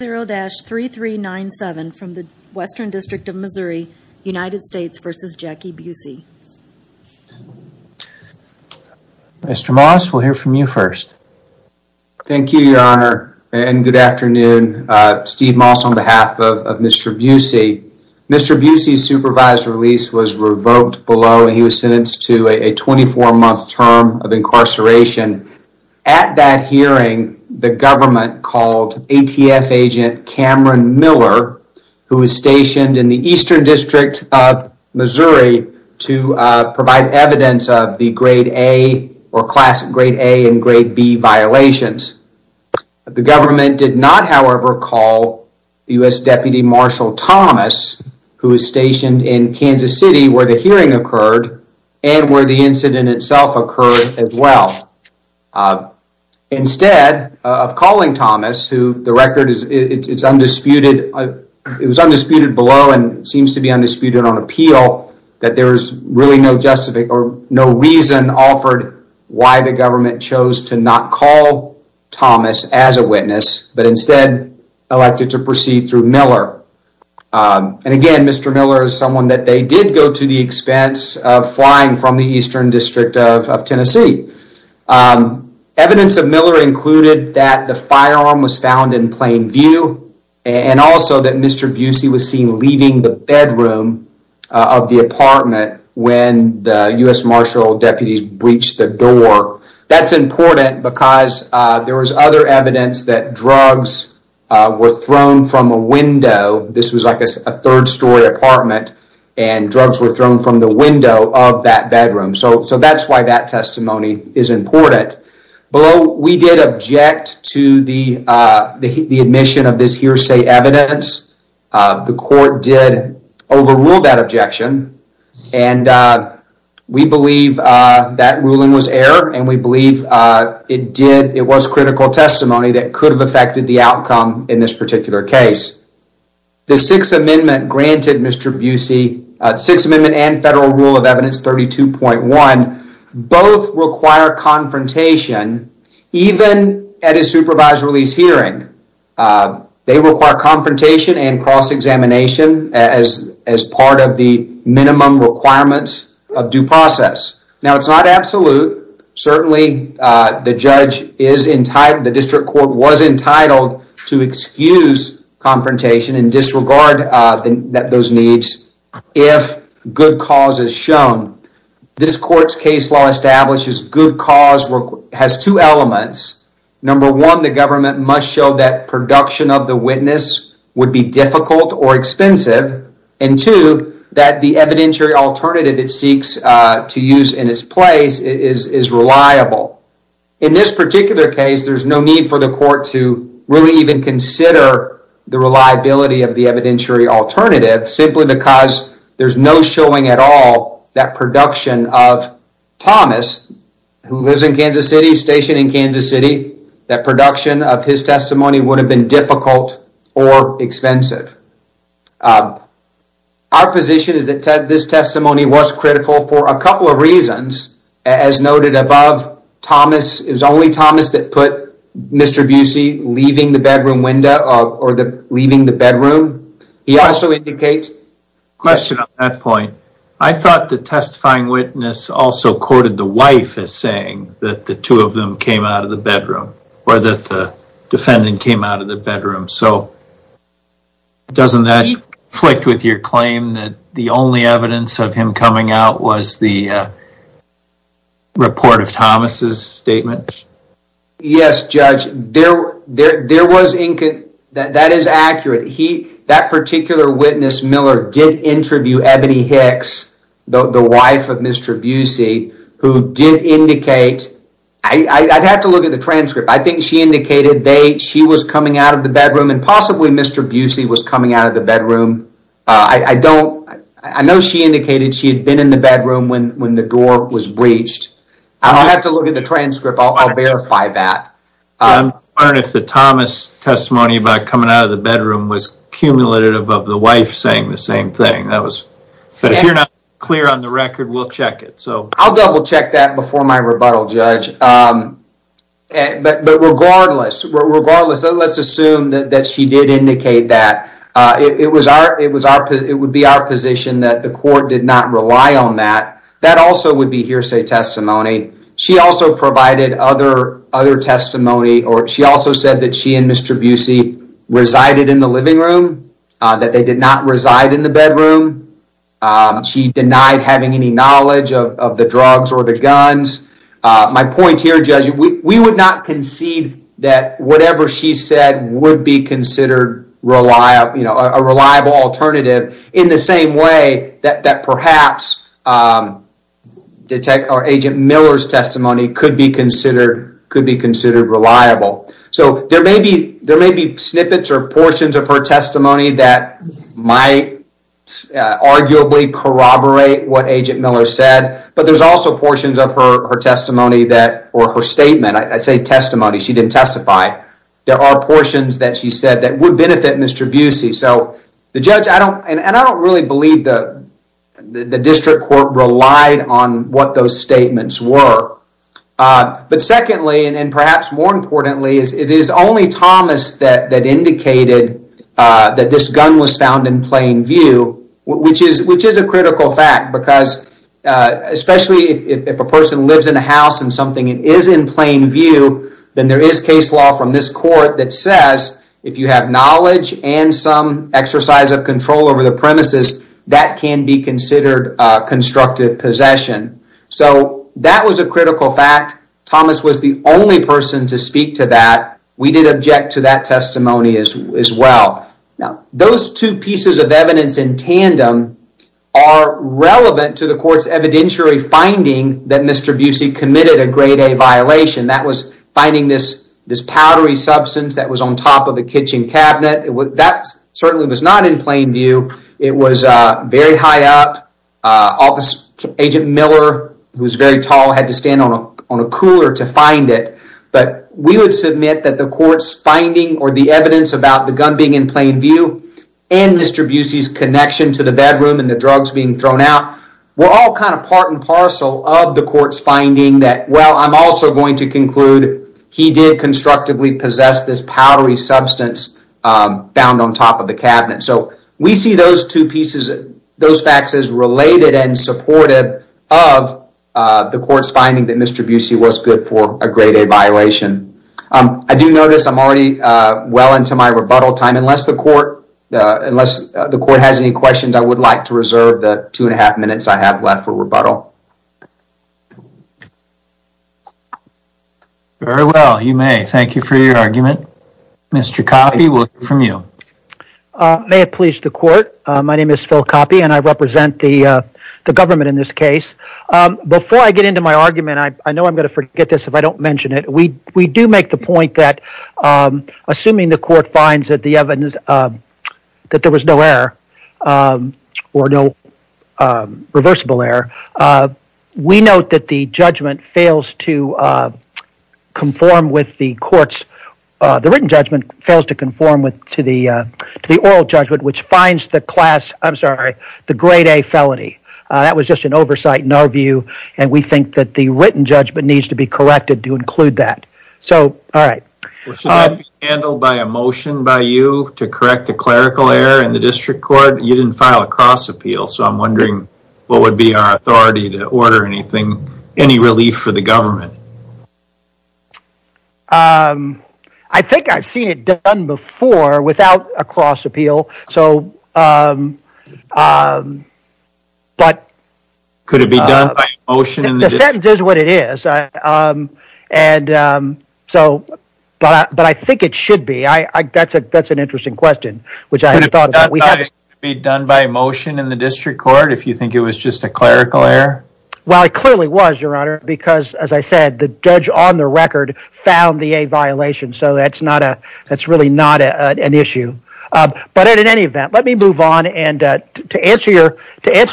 0-3397 from the Western District of Missouri, United States v. Jackie Busey. Mr. Moss, we'll hear from you first. Thank you, Your Honor, and good afternoon. Steve Moss on behalf of Mr. Busey. Mr. Busey's supervised release was revoked below and he was sentenced to a 24-month term of incarceration. At that hearing, the government called ATF agent Cameron Miller, who was stationed in the Eastern District of Missouri, to provide evidence of the grade A and grade B violations. The government did not, however, call U.S. Deputy Marshal Thomas, who was stationed in Instead of calling Thomas, who the record is undisputed, it was undisputed below and seems to be undisputed on appeal, that there's really no justification or no reason offered why the government chose to not call Thomas as a witness, but instead elected to proceed through Miller. And again, Mr. Miller is someone that they did go to the expense of flying from the Eastern District of Tennessee. Evidence of Miller included that the firearm was found in plain view and also that Mr. Busey was seen leaving the bedroom of the apartment when the U.S. Marshal deputies breached the door. That's important because there was other evidence that drugs were thrown from a window. This was like a third story apartment and drugs were thrown from the window of that bedroom. So that's why that testimony is important. We did object to the admission of this hearsay evidence. The court did overrule that objection and we believe that ruling was error and we believe it was critical testimony that could have affected the outcome in this particular case. The Sixth Amendment and Federal Rule of Evidence 32.1 both require confrontation even at a supervised release hearing. They require confrontation and cross-examination as part of the minimum requirements of due process. Now, it's not absolute. Certainly, the district court was entitled to excuse confrontation and disregard those needs if good cause is shown. This court's case law establishes good cause has two elements. Number one, the government must show that production of the witness would be difficult or expensive and two, that the evidentiary alternative it seeks to use in its place is reliable. In this particular case, there's no need for the court to really even consider the reliability of the evidentiary alternative simply because there's no showing at all that production of Thomas, who lives in Kansas City, stationed in Kansas City, that production of his testimony would have been difficult or expensive. Our position is that this testimony was critical for a couple of reasons. As noted above, it was only Thomas that put Mr. Busey leaving the bedroom window or leaving the bedroom. He also indicates... Question on that point. I thought the testifying witness also courted the wife as saying that the two of them came out of the bedroom, or that the defendant came out of the bedroom. Doesn't that flick with your claim that the only evidence of him coming out was the report of Thomas' statement? Yes, Judge. There was... That is accurate. That particular witness, Miller, did interview Ebony Hicks, the wife of Mr. Busey, who did not come out of the bedroom. I'll have to look at the transcript. I think she indicated she was coming out of the bedroom, and possibly Mr. Busey was coming out of the bedroom. I know she indicated she had been in the bedroom when the door was breached. I'll have to look at the transcript. I'll verify that. I'm wondering if the Thomas testimony about coming out of the bedroom was cumulative of the wife saying the same thing, but if you're not clear on the record, we'll check it. I'll double-check that before my rebuttal, Judge, but regardless, let's assume that she did indicate that. It would be our position that the court did not rely on that. That also would be hearsay testimony. She also provided other testimony. She also said that she and Mr. Busey resided in the living room, that they did not reside in the bedroom. She denied having any knowledge of the drugs or the guns. My point here, Judge, we would not concede that whatever she said would be considered a reliable alternative in the same way that perhaps Agent Miller's testimony could be considered reliable. There may be snippets or portions of her testimony that might arguably corroborate what Agent Miller said, but there's also portions of her testimony or her statement. I say testimony. She didn't testify. There are portions that she said that would benefit Mr. Busey. The judge, and I don't really believe the district court, relied on what those statements were. But secondly, and perhaps more importantly, it is only Thomas that indicated that this gun was found in plain view, which is a critical fact, because especially if a person lives in a house and something is in plain view, then there is case law from this court that says if you have knowledge and some exercise of control over the premises, that can be considered constructive possession. So that was a critical fact. Thomas was the only person to speak to that. We did object to that testimony as well. Those two pieces of evidence in tandem are relevant to the court's evidentiary finding that Mr. Busey committed a grade A violation. That was finding this powdery substance that was on top of the kitchen cabinet. That certainly was not in plain view. It was very high up. Agent Miller, who was very tall, had to stand on a cooler to find it. But we would submit that the court's finding or the evidence about the gun being in plain view and Mr. Busey's connection to the bedroom and the drugs being thrown out were all kind of part and parcel of the court's finding that, well, I'm also going to conclude he did constructively possess this powdery substance found on top of the cabinet. We see those two pieces, those facts as related and supportive of the court's finding that Mr. Busey was good for a grade A violation. I do notice I'm already well into my rebuttal time. Unless the court has any questions, I would like to reserve the two and a half minutes I have left for rebuttal. You may. Thank you for your argument. Mr. Coffey, we'll hear from you. May it please the court, my name is Phil Coffey and I represent the government in this case. Before I get into my argument, I know I'm going to forget this if I don't mention it, we do make the point that assuming the court finds that there was no error or no reversible error, we note that the judgment fails to conform with the court's, the written judgment fails to conform to the oral judgment which finds the class, I'm sorry, the grade A felony. That was just an oversight in our view and we think that the written judgment needs to be corrected to include that. So all right. Should that be handled by a motion by you to correct the clerical error in the district court? You didn't file a cross appeal, so I'm wondering what would be our authority to order anything, any relief for the government? I think I've seen it done before without a cross appeal, so, but. Could it be done by a motion? The sentence is what it is and so, but I think it should be, that's an interesting question which I hadn't thought about. Could it be done by a motion in the district court if you think it was just a clerical error? Well, it clearly was, your honor, because as I said, the judge on the record found the A violation, so that's not a, that's really not an issue, but in any event, let me move on and to answer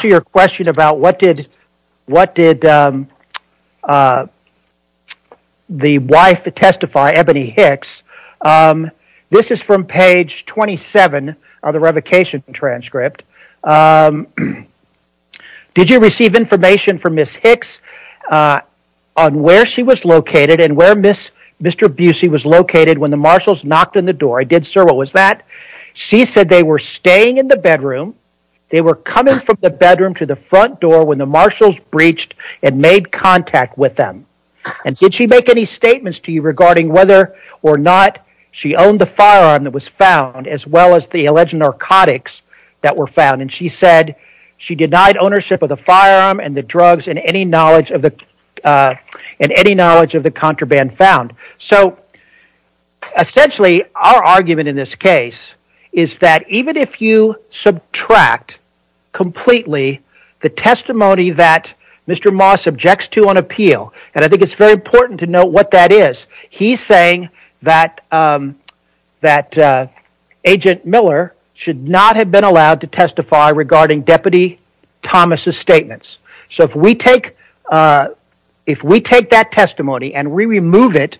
your question about what did the wife testify, Ebony Hicks, this is from page 27 of the revocation transcript. Did you receive information from Ms. Hicks on where she was located and where Mr. Busey was located when the marshals knocked on the door? I did, sir. What was that? She said they were staying in the bedroom. They were coming from the bedroom to the front door when the marshals breached and made contact with them and did she make any statements to you regarding whether or not she owned the firearm that was found as well as the alleged narcotics that were found and she said she denied ownership of the firearm and the drugs and any knowledge of the, and any knowledge of the contraband found. So essentially our argument in this case is that even if you subtract completely the testimony that Mr. Moss objects to on appeal, and I think it's very important to note what that is, he's saying that Agent Miller should not have been allowed to testify regarding Deputy Thomas' statements. So if we take that testimony and we remove it,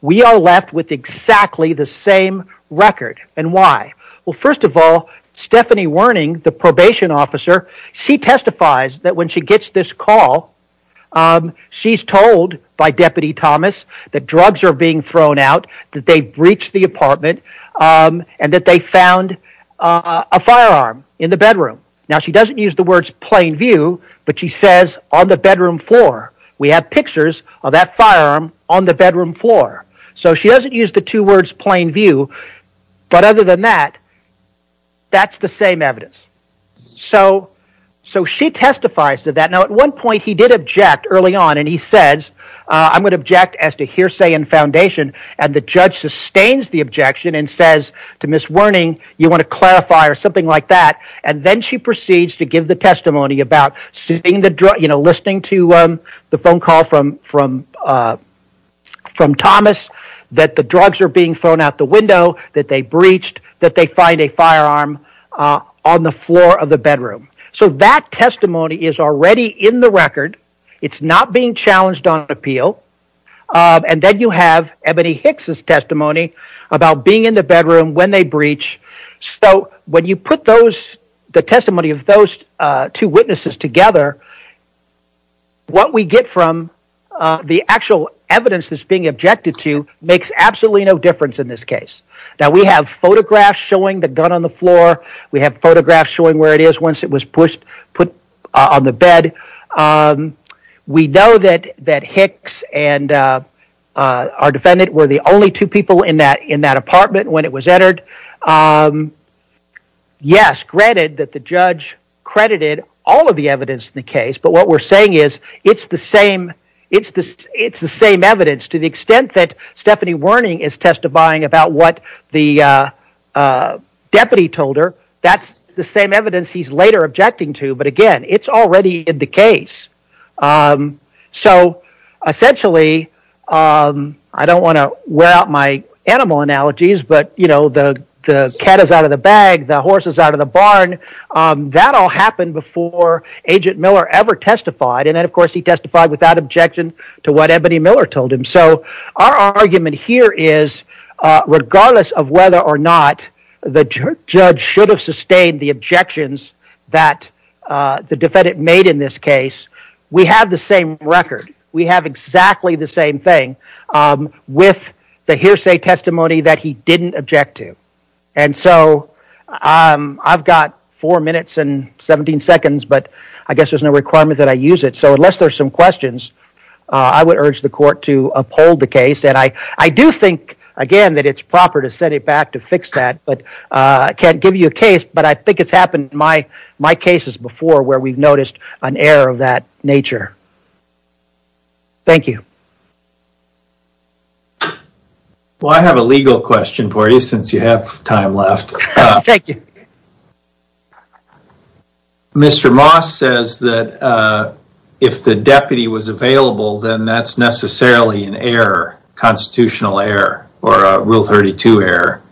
we are left with exactly the same record. And why? Well first of all, Stephanie Werning, the probation officer, she testifies that when the drugs are being thrown out that they breached the apartment and that they found a firearm in the bedroom. Now she doesn't use the words plain view, but she says on the bedroom floor. We have pictures of that firearm on the bedroom floor. So she doesn't use the two words plain view, but other than that, that's the same evidence. So she testifies to that. Now at one point he did object early on and he says, I'm going to object as to hearsay and foundation, and the judge sustains the objection and says to Ms. Werning, you want to clarify or something like that. And then she proceeds to give the testimony about listening to the phone call from Thomas that the drugs are being thrown out the window, that they breached, that they find a firearm on the floor of the bedroom. So that testimony is already in the record. It's not being challenged on appeal. And then you have Ebony Hicks' testimony about being in the bedroom when they breach. So when you put the testimony of those two witnesses together, what we get from the actual evidence that's being objected to makes absolutely no difference in this case. Now we have photographs showing the gun on the floor. We have photographs showing where it is once it was pushed, put on the bed. We know that Hicks and our defendant were the only two people in that apartment when it was entered. Yes, granted that the judge credited all of the evidence in the case, but what we're saying is it's the same evidence to the extent that Stephanie Werning is testifying about what the deputy told her. That's the same evidence he's later objecting to. But again, it's already in the case. So essentially, I don't want to wear out my animal analogies, but, you know, the cat is out of the bag, the horse is out of the barn. That all happened before Agent Miller ever testified, and then, of course, he testified without objection to what Ebony Miller told him. So our argument here is regardless of whether or not the judge should have sustained the objections that the defendant made in this case, we have the same record. We have exactly the same thing with the hearsay testimony that he didn't object to. And so I've got four minutes and 17 seconds, but I guess there's no requirement that I use it. So unless there's some questions, I would urge the court to uphold the case, and I do think, again, that it's proper to set it back to fix that, but I can't give you a case, but I think it's happened in my cases before where we've noticed an error of that nature. Thank you. Well, I have a legal question for you since you have time left. Thank you. Mr. Moss says that if the deputy was available, then that's necessarily an error, constitutional error, or a Rule 32 error.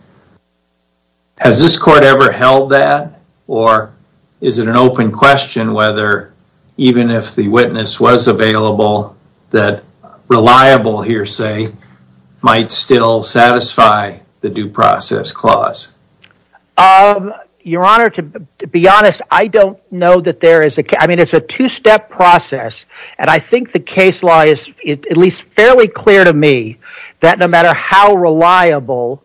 Has this court ever held that, or is it an open question whether even if the witness was available, that reliable hearsay might still satisfy the due process clause? Your Honor, to be honest, I don't know that there is a case. I mean, it's a two-step process, and I think the case law is at least fairly clear to me that no matter how reliable,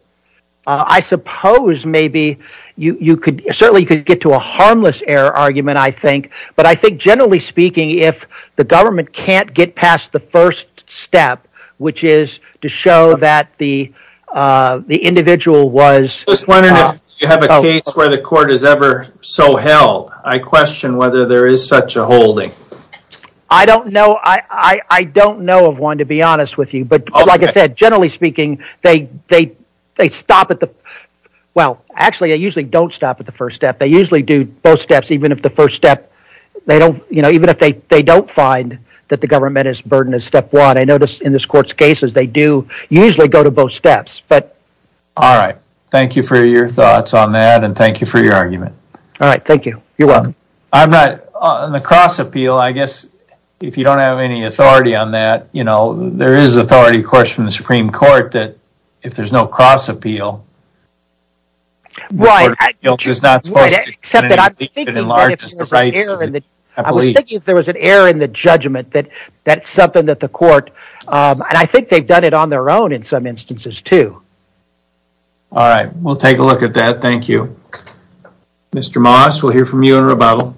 I suppose maybe you could, certainly you could get to a harmless error argument, I think, but I think, generally speaking, if the government can't get past the first step, which is to show that the individual was... I was wondering if you have a case where the court has ever so held. I question whether there is such a holding. I don't know of one, to be honest with you, but like I said, generally speaking, they stop at the... Well, actually, they usually don't stop at the first step. They usually do both steps, even if the first step, they don't, you know, even if they don't find that the government is burdened as step one. I notice in this court's cases, they do usually go to both steps, but... All right. Thank you for your thoughts on that, and thank you for your argument. All right. Thank you. You're welcome. I'm not... On the cross-appeal, I guess, if you don't have any authority on that, you know, there is authority, of course, from the Supreme Court that if there's no cross-appeal... Right. ...you're not supposed to... Right, except that I'm thinking that if there was an error in the judgment, that's something that the court... And I think they've done it on their own in some instances, too. All right. We'll take a look at that. Thank you. Mr. Moss, we'll hear from you in rebuttal.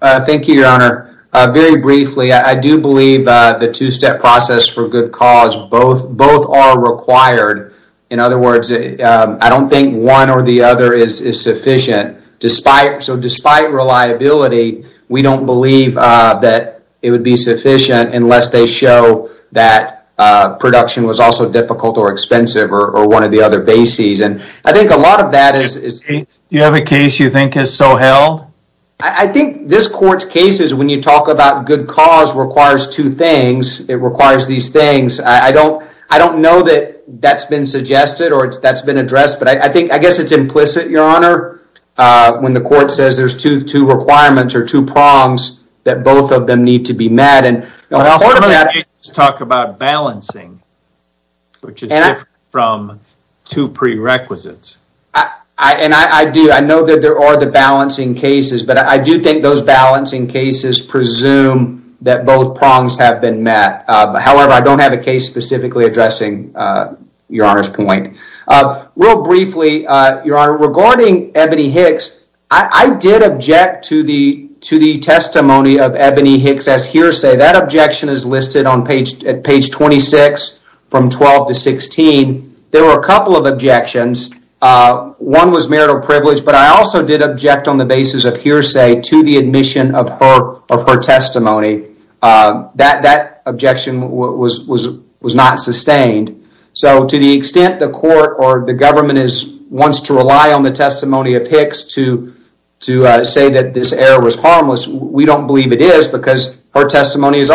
Thank you, Your Honor. Very briefly, I do believe the two-step process for good cause, both are required. In other words, I don't think one or the other is sufficient, so despite reliability, we don't believe that it would be sufficient unless they show that production was also difficult or expensive or one of the other bases, and I think a lot of that is... Do you have a case you think is so held? I think this court's cases, when you talk about good cause, requires two things. It requires these things. I don't know that that's been suggested or that's been addressed, but I guess it's implicit, Your Honor, when the court says there's two requirements or two prongs that both of them need to be met. Now, some of those cases talk about balancing, which is different from two prerequisites. I do. I know that there are the balancing cases, but I do think those balancing cases presume that both prongs have been met. However, I don't have a case specifically addressing Your Honor's point. Real briefly, Your Honor, regarding Ebony Hicks, I did object to the testimony of Ebony Hicks as hearsay. That objection is listed on page 26 from 12 to 16. There were a couple of objections. One was marital privilege, but I also did object on the basis of hearsay to the admission of her testimony. That objection was not sustained. To the extent the court or the government wants to rely on the testimony of Hicks to say that this error was harmless, we don't believe it is because her testimony was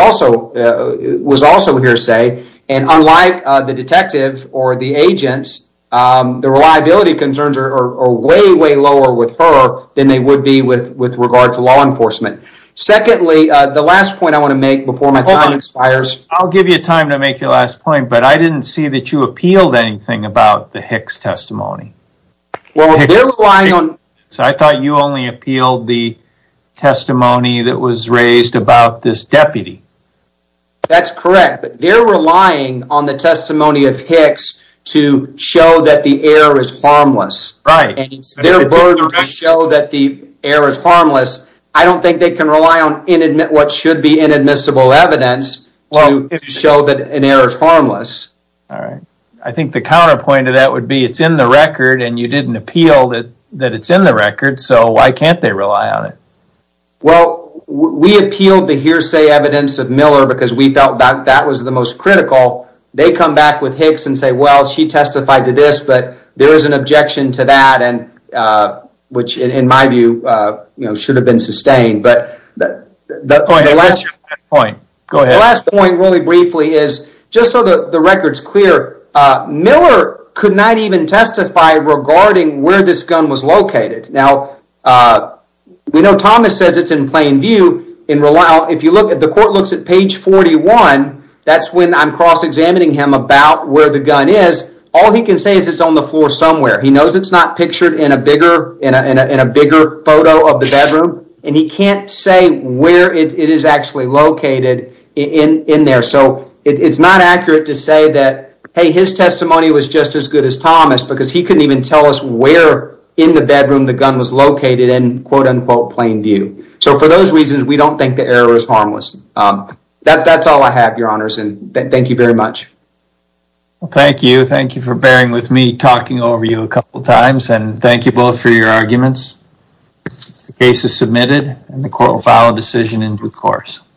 also hearsay. Unlike the detective or the agent, the reliability concerns are way, way lower with her than they would be with regard to law enforcement. Secondly, the last point I want to make before my time expires. I'll give you time to make your last point, but I didn't see that you appealed anything about the Hicks testimony. I thought you only appealed the testimony that was raised about this deputy. That's correct. They're relying on the testimony of Hicks to show that the error is harmless. Their verdicts show that the error is harmless. I don't think they can rely on what should be inadmissible evidence to show that an error is harmless. I think the counterpoint to that would be that it's in the record and you didn't appeal that it's in the record, so why can't they rely on it? We appealed the hearsay evidence of Miller because we felt that was the most critical. They come back with Hicks and say, well, she testified to this, but there is an objection to that, which in my view should have been sustained. That's your last point. Go ahead. The last point, really briefly, is just so the record is clear, Miller could not even testify regarding where this gun was located. We know Thomas says it's in plain view. If the court looks at page 41, that's when I'm cross-examining him about where the gun is. All he can say is it's on the floor somewhere. He knows it's not pictured in a bigger photo of the bedroom, and he can't say where it is actually located in there. It's not accurate to say that, hey, his testimony was just as good as Thomas because he couldn't even tell us where in the bedroom the gun was located in quote-unquote plain view. For those reasons, we don't think the error is harmless. That's all I have, Your Honors, and thank you very much. Thank you. Thank you for bearing with me talking over you a couple times, and thank you both for your arguments. The case is submitted, and the court will file a decision in due course.